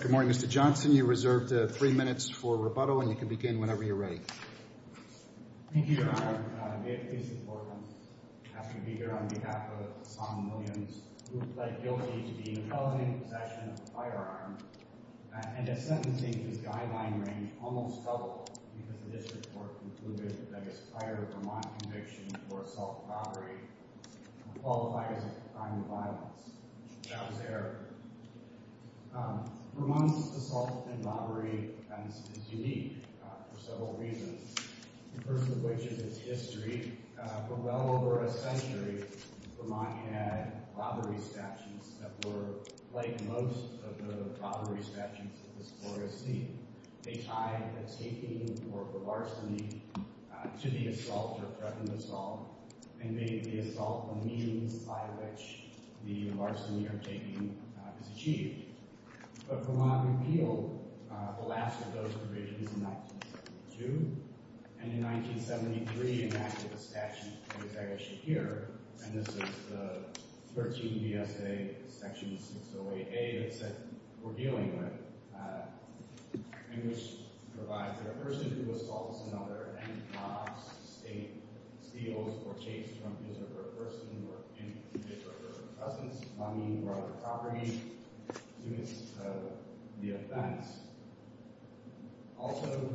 Good morning Mr. Johnson, you are reserved three minutes for rebuttal and you can begin whenever you're ready. Thank you Your Honor. It is important to ask you to be here on behalf of Son Williams, who pled guilty to being in the felony possession of a firearm and has sentencing his guideline range almost doubled because the district court concluded that his prior Vermont conviction for assault and robbery qualifies as a crime of violence. That was error. Vermont's assault and robbery defense is unique. For several reasons. The first of which is its history. For well over a century, Vermont had robbery statutes that were like most of the robbery statutes of this glorious state. They tied the taking or the larceny to the assault or threatened assault and made the assault the means by which the larceny or taking is achieved. But Vermont repealed the last of those provisions in 1975. In 1972, and in 1973, enacted the statute, and this is the 13 BSA section 608A that we're dealing with, which provides that a person who assaults another and mobs, steals, or takes from his or her person, or in the case of her presence, money, or other property is accused of the offense. Also-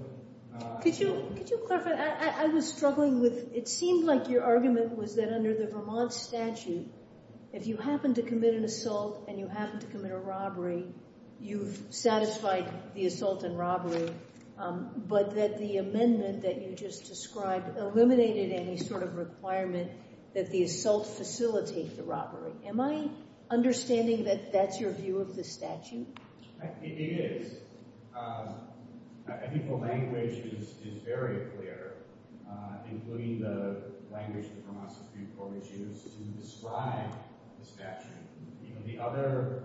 Could you clarify? I was struggling with, it seemed like your argument was that under the Vermont statute, if you happen to commit an assault and you happen to commit a robbery, you've satisfied the assault and robbery, but that the amendment that you just described eliminated any sort of requirement that the assault facilitate the robbery. Am I understanding that that's your view of the statute? It is. I think the language is very clear, including the language that Vermont Supreme Court has used to describe the statute. You know, the other-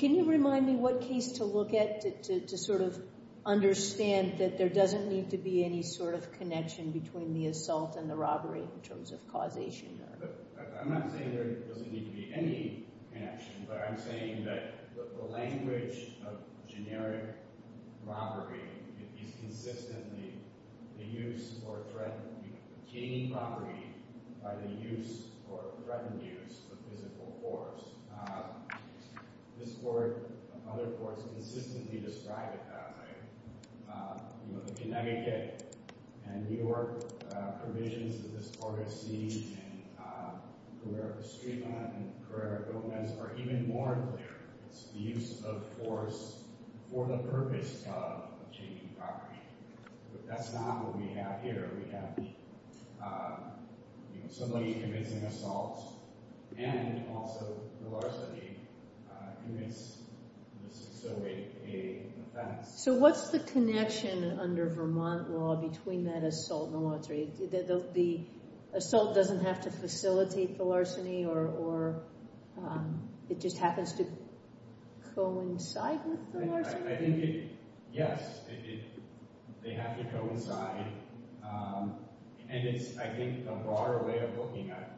Can you remind me what case to look at to sort of understand that there doesn't need to be any sort of connection between the assault and the robbery in terms of causation? I'm not saying there doesn't need to be any connection, but I'm saying that the language of generic robbery is consistently the use or threaten, you know, obtaining property by the use or threatened use of physical force. This Court, other courts, consistently describe it that way, you know, the Connecticut and New York provisions of this Corte C and Carrera-Estrema and Carrera-Gomez are even more clear. It's the use of force for the purpose of obtaining property, but that's not what we have here. We have, you know, somebody who commits an assault and also, largely, commits an offense. So what's the connection under Vermont law between that assault and the lottery? The assault doesn't have to facilitate the larceny, or it just happens to coincide with the larceny? I think it, yes, they have to coincide, and it's, I think, a broader way of looking at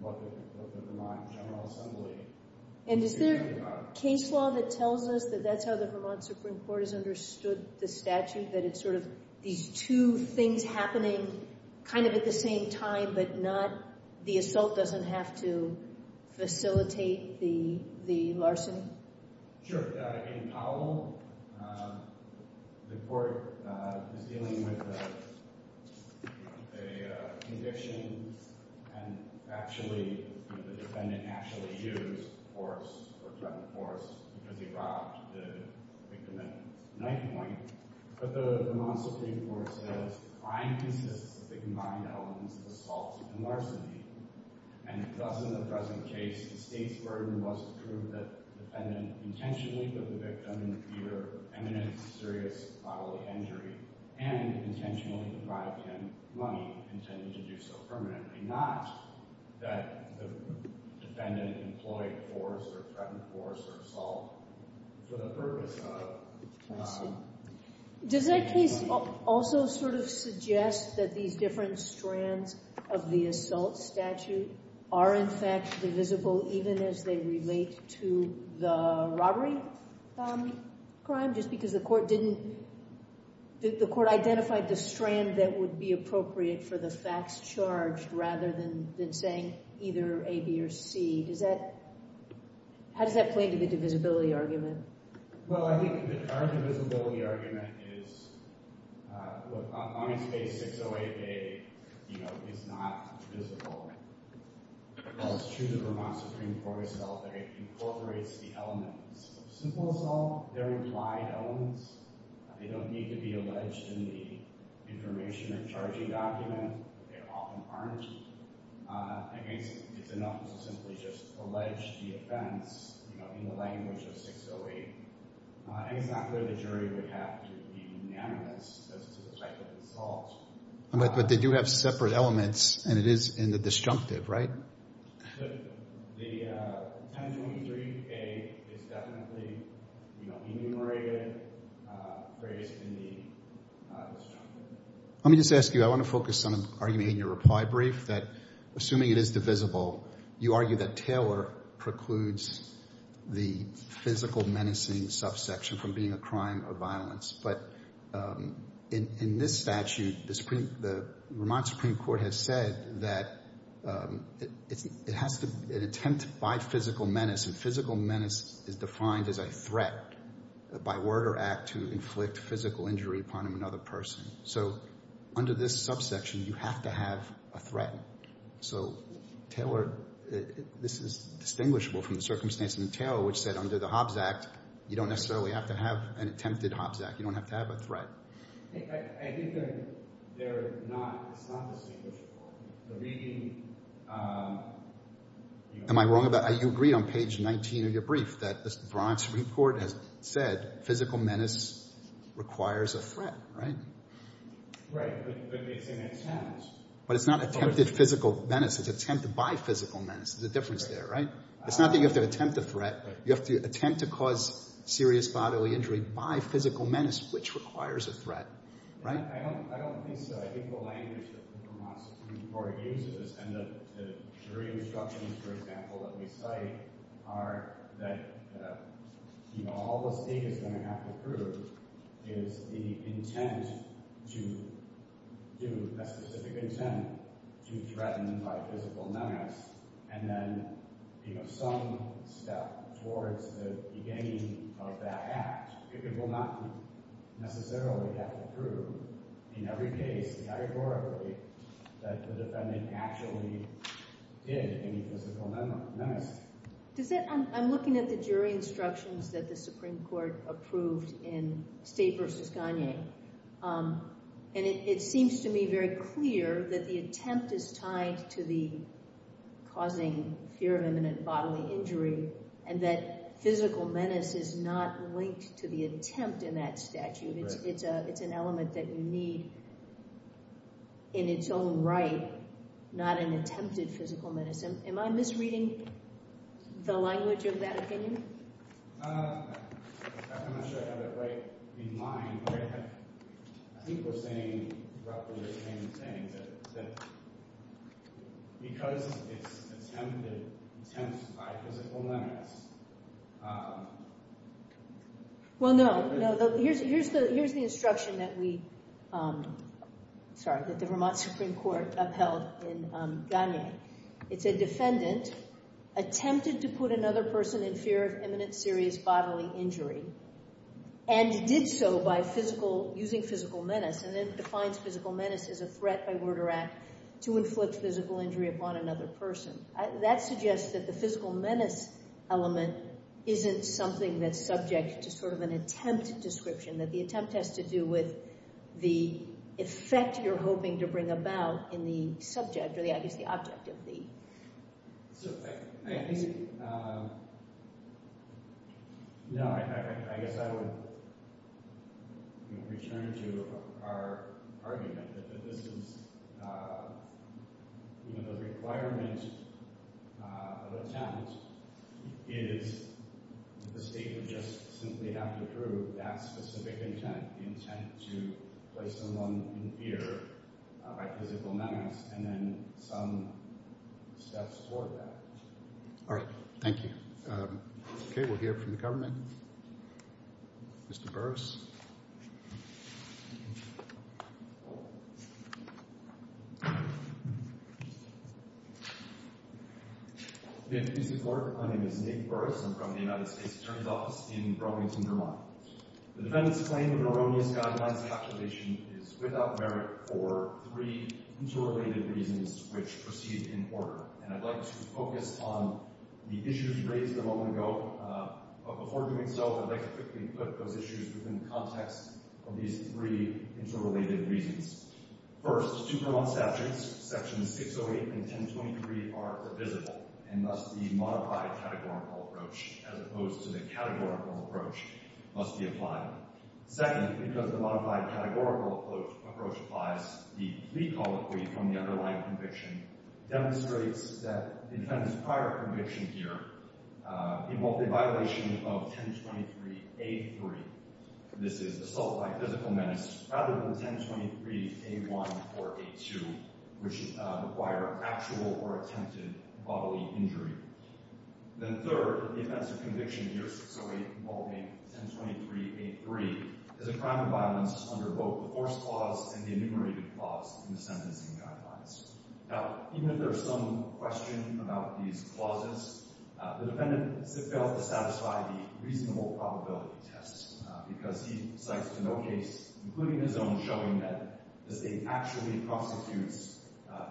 what the Vermont General Assembly is concerned about. Is there a case law that tells us that that's how the Vermont Supreme Court has understood the statute, that it's sort of these two things happening kind of at the same time, but not, the assault doesn't have to facilitate the larceny? Sure. In Powell, the Court is dealing with a condition and actually, the defendant actually used force or threatened force because he robbed the victim at night point, but the Vermont Supreme Court says crime consists of the combined elements of assault and larceny, and thus, in the present case, the state's burden was to prove that the defendant intentionally put the victim in either imminent serious bodily injury and intentionally deprived him money intended to do so permanently, not that the defendant employed force or threatened force or assault for the purpose of... I see. Does that case also sort of suggest that these different strands of the assault statute are, in fact, divisible even as they relate to the robbery crime, just because the court identified the strand that would be appropriate for the facts charged rather than saying either A, B, or C? How does that play into the divisibility argument? Well, I think our divisibility argument is, on its face, 608A is not divisible. As to the Vermont Supreme Court itself, it incorporates the elements of simple assault, their implied elements. They don't need to be alleged in the information or charging document. They often aren't. I think it's enough to simply just allege the offense in the language of 608, and it's not clear the jury would have to be unanimous as to the type of assault. But they do have separate elements, and it is in the disjunctive, right? But the 1023A is definitely enumerated, phrased in the disjunctive. Let me just ask you, I want to focus on an argument in your reply brief that, assuming it is divisible, you argue that Taylor precludes the physical menacing subsection from being a crime or violence. But in this statute, the Vermont Supreme Court has said that it has to be an attempt by physical menace, and physical menace is defined as a threat by word or act to inflict physical injury upon another person. So under this subsection, you have to have a threat. So, Taylor, this is distinguishable from the circumstance in the Taylor, which said under the Hobbs Act, you don't necessarily have to have an attempted Hobbs Act. You don't have to have a threat. I think they're not, it's not distinguishable. The reading, am I wrong about, you agreed on page 19 of your brief that the Vermont Supreme Court has said physical menace requires a threat, right? Right, but it's an attempt. But it's not attempted physical menace, it's attempted by physical menace. There's a difference there, right? It's not that you have to attempt a threat, you have to attempt to cause serious bodily injury by physical menace, which requires a threat, right? I don't think so. I think the language that the Vermont Supreme Court uses, and the jury instructions, for example, that we cite are that all the state is going to have to prove is the intent to do, a specific intent to threaten by physical menace, and then some step towards the beginning of that act. It will not necessarily have to prove, in every case, categorically, that the defendant actually did any physical menace. I'm looking at the jury instructions that the Supreme Court approved in State v. Gagné, and it seems to me very clear that the attempt is tied to the causing fear of imminent bodily injury, and that physical menace is not linked to the attempt in that statute. It's an element that you need in its own right, not an attempted physical menace. Am I misreading the language of that opinion? I'm not sure I have it right in mind, but I think we're saying roughly the same thing, that because it's attempted attempts by physical menace... Well, no. Here's the instruction that the Vermont Supreme Court upheld in Gagné. It said, defendant attempted to put another person in fear of imminent serious bodily injury, and did so by using physical menace, and then defines physical menace as a threat by word or act to inflict physical injury upon another person. That suggests that the physical menace element isn't something that's subject to sort of an attempt description, that the attempt has to do with the effect you're hoping to bring about in the subject, or I guess the object of the... So I think... No, I guess I would return to our argument that this is, you know, the requirement of attempt is the state would just simply have to prove that specific intent, the intent to place someone in fear by physical menace, and then some steps toward that. All right, thank you. Okay, we'll hear from the government. Mr. Burris. Good evening, Mr. Clerk. My name is Nick Burris. I'm from the United States Attorney's Office in Bromington, Vermont. The defendant's claim of an erroneous guidelines calculation is without merit for three interrelated reasons which proceed in order, and I'd like to focus on the issues raised a moment ago, but before doing so, I'd like to quickly put those issues within the context of these three interrelated reasons. First, two Vermont statutes, sections 608 and 1023, are divisible, and thus the modified categorical approach as opposed to the categorical approach must be applied. Second, because the modified categorical approach applies, the plea colloquy from the underlying conviction demonstrates that the defendant's prior conviction here involved a violation of 1023A3. This is assault by physical menace rather than 1023A1 or A2 which require actual or attempted bodily injury. Then third, the offense of conviction here involving 1023A3 is a crime of violence under both the force clause and the enumerated clause in the sentencing guidelines. Now, even if there's some question about these clauses, the defendant fails to satisfy the reasonable probability test because he cites no case, including his own, showing that the state actually prostitutes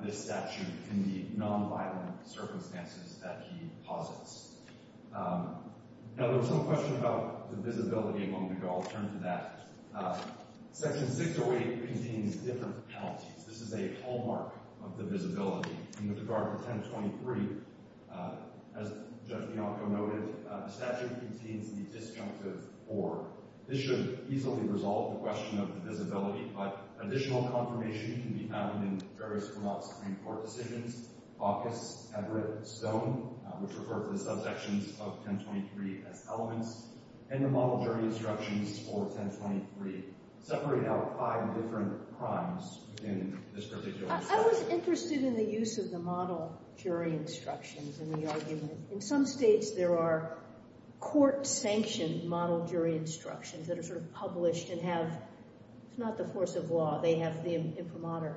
this statute in the non-violent circumstances that he posits. Now, there was some question about divisibility a moment ago. I'll turn to that. Section 608 contains different penalties. This is a hallmark of divisibility in regard to 1023. As Judge Bianco noted, the statute contains the disjunctive or. This should easily resolve the question of divisibility, but additional confirmation can be found in various criminal Supreme Court decisions, Bacchus, Everett, Stone, which refer to the subjections of 1023 as elements, and the model jury instructions for 1023 separate out five different crimes within this particular statute. I was interested in the use of the model jury instructions in the argument. In some states, there are court-sanctioned jury instructions that are sort of published and have. It's not the force of law. They have the imprimatur.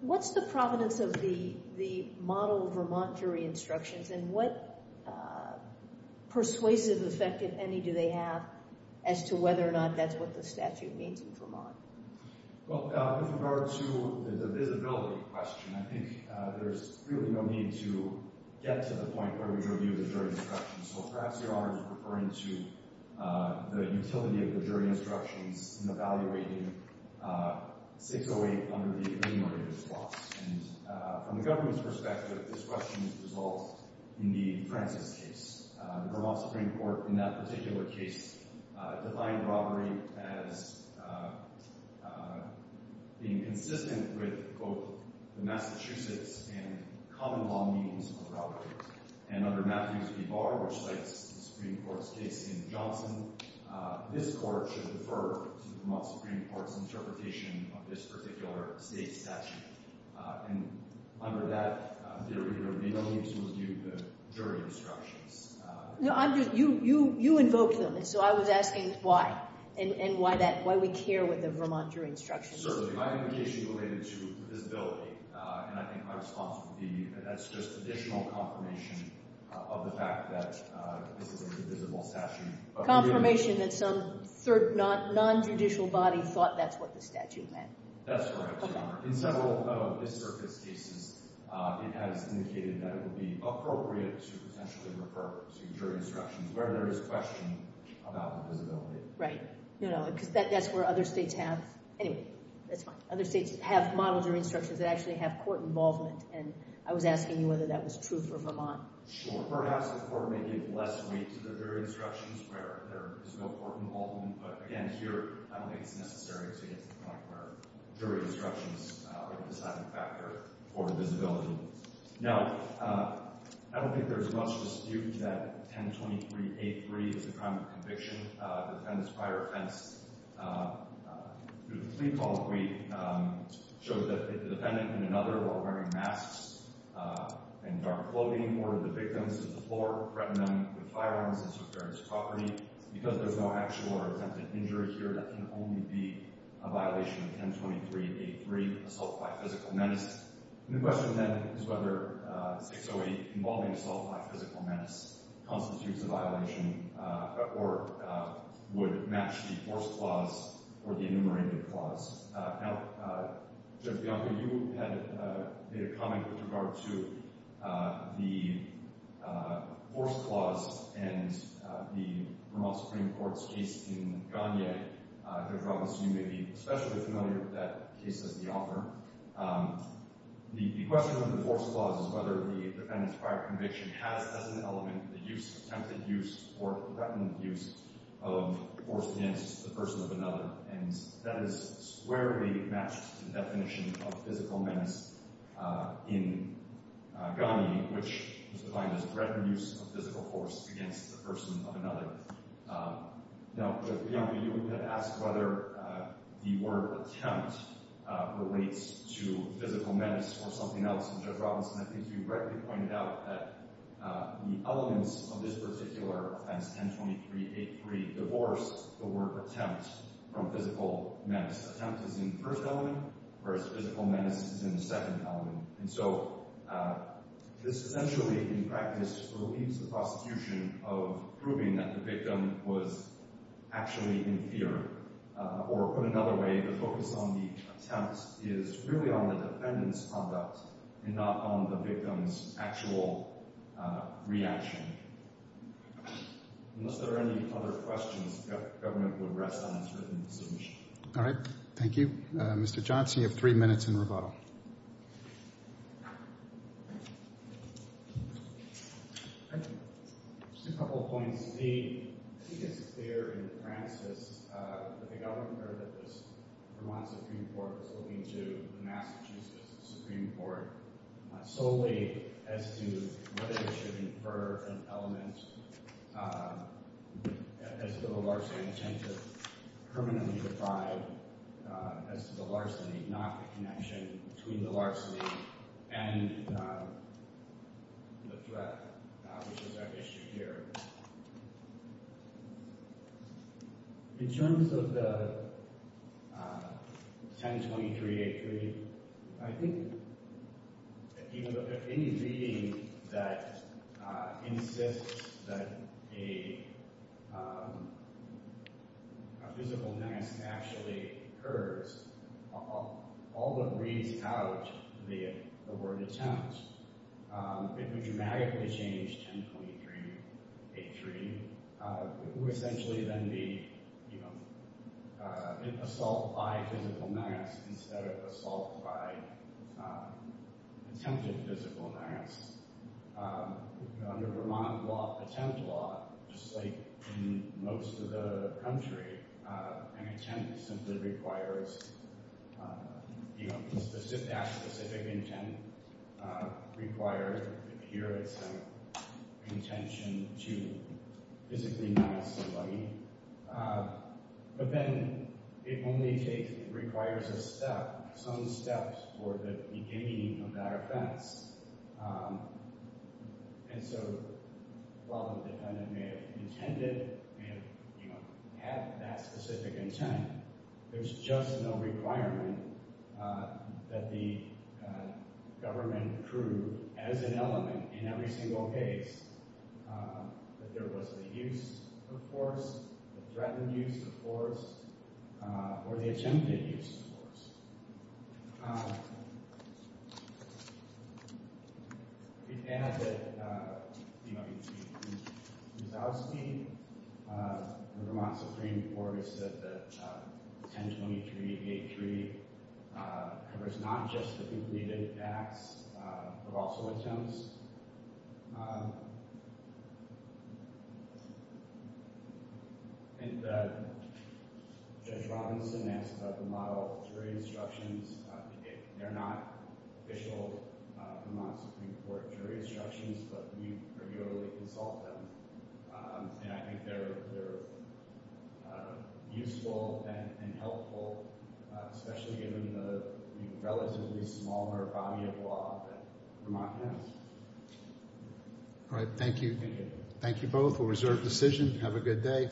What's the provenance of the model Vermont jury instructions, and what persuasive effect, if any, do they have as to whether or not that's what the statute means in Vermont? Well, with regard to the divisibility question, I think there's really no need to get to the point where we review the jury instructions, so perhaps Your Honor is referring to the utility of the jury instructions in evaluating 608 under the enumerated clause, and from the government's perspective, this question is resolved in the Francis case. The Vermont Supreme Court, in that particular case, defined robbery as being consistent with both the Massachusetts and common law means of robbery, and under Matthews v. Barr, which cites the Supreme Court's case in Johnson, this court should defer to the Vermont Supreme Court's interpretation of this particular state statute, and under that, there really is no need to review the jury instructions. No, you invoked them, and so I was asking why, and why we care with the Vermont jury instructions. Certainly, my indication is related to visibility, and I think my response would be that's just additional confirmation of the fact that this is a divisible statute. Confirmation that some non-judicial body thought that's what the statute meant. That's correct, Your Honor. In several of this circuit's cases, it has indicated that it would appropriate to refer to jury instructions where there is question about the visibility. Right, you know, because that's where other states have, anyway, that's fine, other states have model jury instructions that actually have court involvement, and I was asking you whether that was true for Vermont. Sure, perhaps the court may give less weight to the jury instructions where there is no court involvement, but again, here, I don't think it's necessary to get to the I don't think there's much dispute that 1023-83 is a crime of conviction. The defendant's prior offense through the plea call that we showed that the defendant and another were wearing masks and dark clothing, ordered the victims to the floor, threatened them with firearms, and took their property. Because there's no actual or attempted injury here, that can only be a violation of 1023-83, assault by physical menace. The question then is whether 608, involving assault by physical menace, constitutes a violation or would match the force clause or the enumerated clause. Now, Judge Bianco, you had made a comment with regard to the force clause and the Vermont Supreme Court's case in Gagne. Judge Robbins, you may be especially familiar with that case as the author. The question of the force clause is whether the defendant's prior conviction has as an element the use, attempted use, or threatened use of force against the person of another, and that is squarely matched to the definition of physical menace in Gagne, which is defined as threatened use of physical force against the person of another. Now, Judge Bianco, you had asked whether the word attempt relates to physical menace or something else, and Judge Robbins, I think you rightly pointed out that the elements of this particular offense, 1023-83, divorce the word attempt from physical menace. Attempt is in first element, whereas physical menace is in the second element, and so this essentially, in practice, relieves the prosecution of proving that the victim was actually in fear, or put another way, the focus on the attempt is really on the defendant's conduct and not on the victim's actual reaction. Unless there are any other questions, the government will rest on its All right. Thank you. Mr. Johnson, you have three minutes in rebuttal. Just a couple of points. I think it's clear in the parenthesis that the government heard that this Vermont Supreme Court was looking to the Massachusetts Supreme Court solely as to whether it should infer an element as to the larceny intent to permanently deprive as to the larceny, not the connection between the larceny and the threat, which is our issue here. In terms of the 1023-83, I think that any reading that insists that a physical menace actually occurs, all but reads out the word attempt, it would dramatically change 1023-83, who essentially then be, you know, assault by physical menace instead of assault by attempted physical menace. Under Vermont law, attempt law, just like in most of the country, an attempt simply requires, you know, a specific intent requires, here it's an intention to physically menace somebody, but then it only takes, requires a step, some steps for the beginning of that offense. And so while the defendant may have intended, may have, you know, had that specific intent, there's just no requirement that the government prove as an element in every single case that there was the use of force, the threatened use of force, or the attempted use of force. We can add that, you know, you see in Mousowski, the Vermont Supreme Court has said that 1023-83 covers not just the completed acts, but also attempts. I think Judge Robinson asked about the model of jury instructions. They're not official Vermont Supreme Court jury instructions, but we regularly consult them, and I think they're useful and helpful, especially given the relatively smaller body of law that Vermont has. All right. Thank you. Thank you both. We'll reserve decision. Have a good day.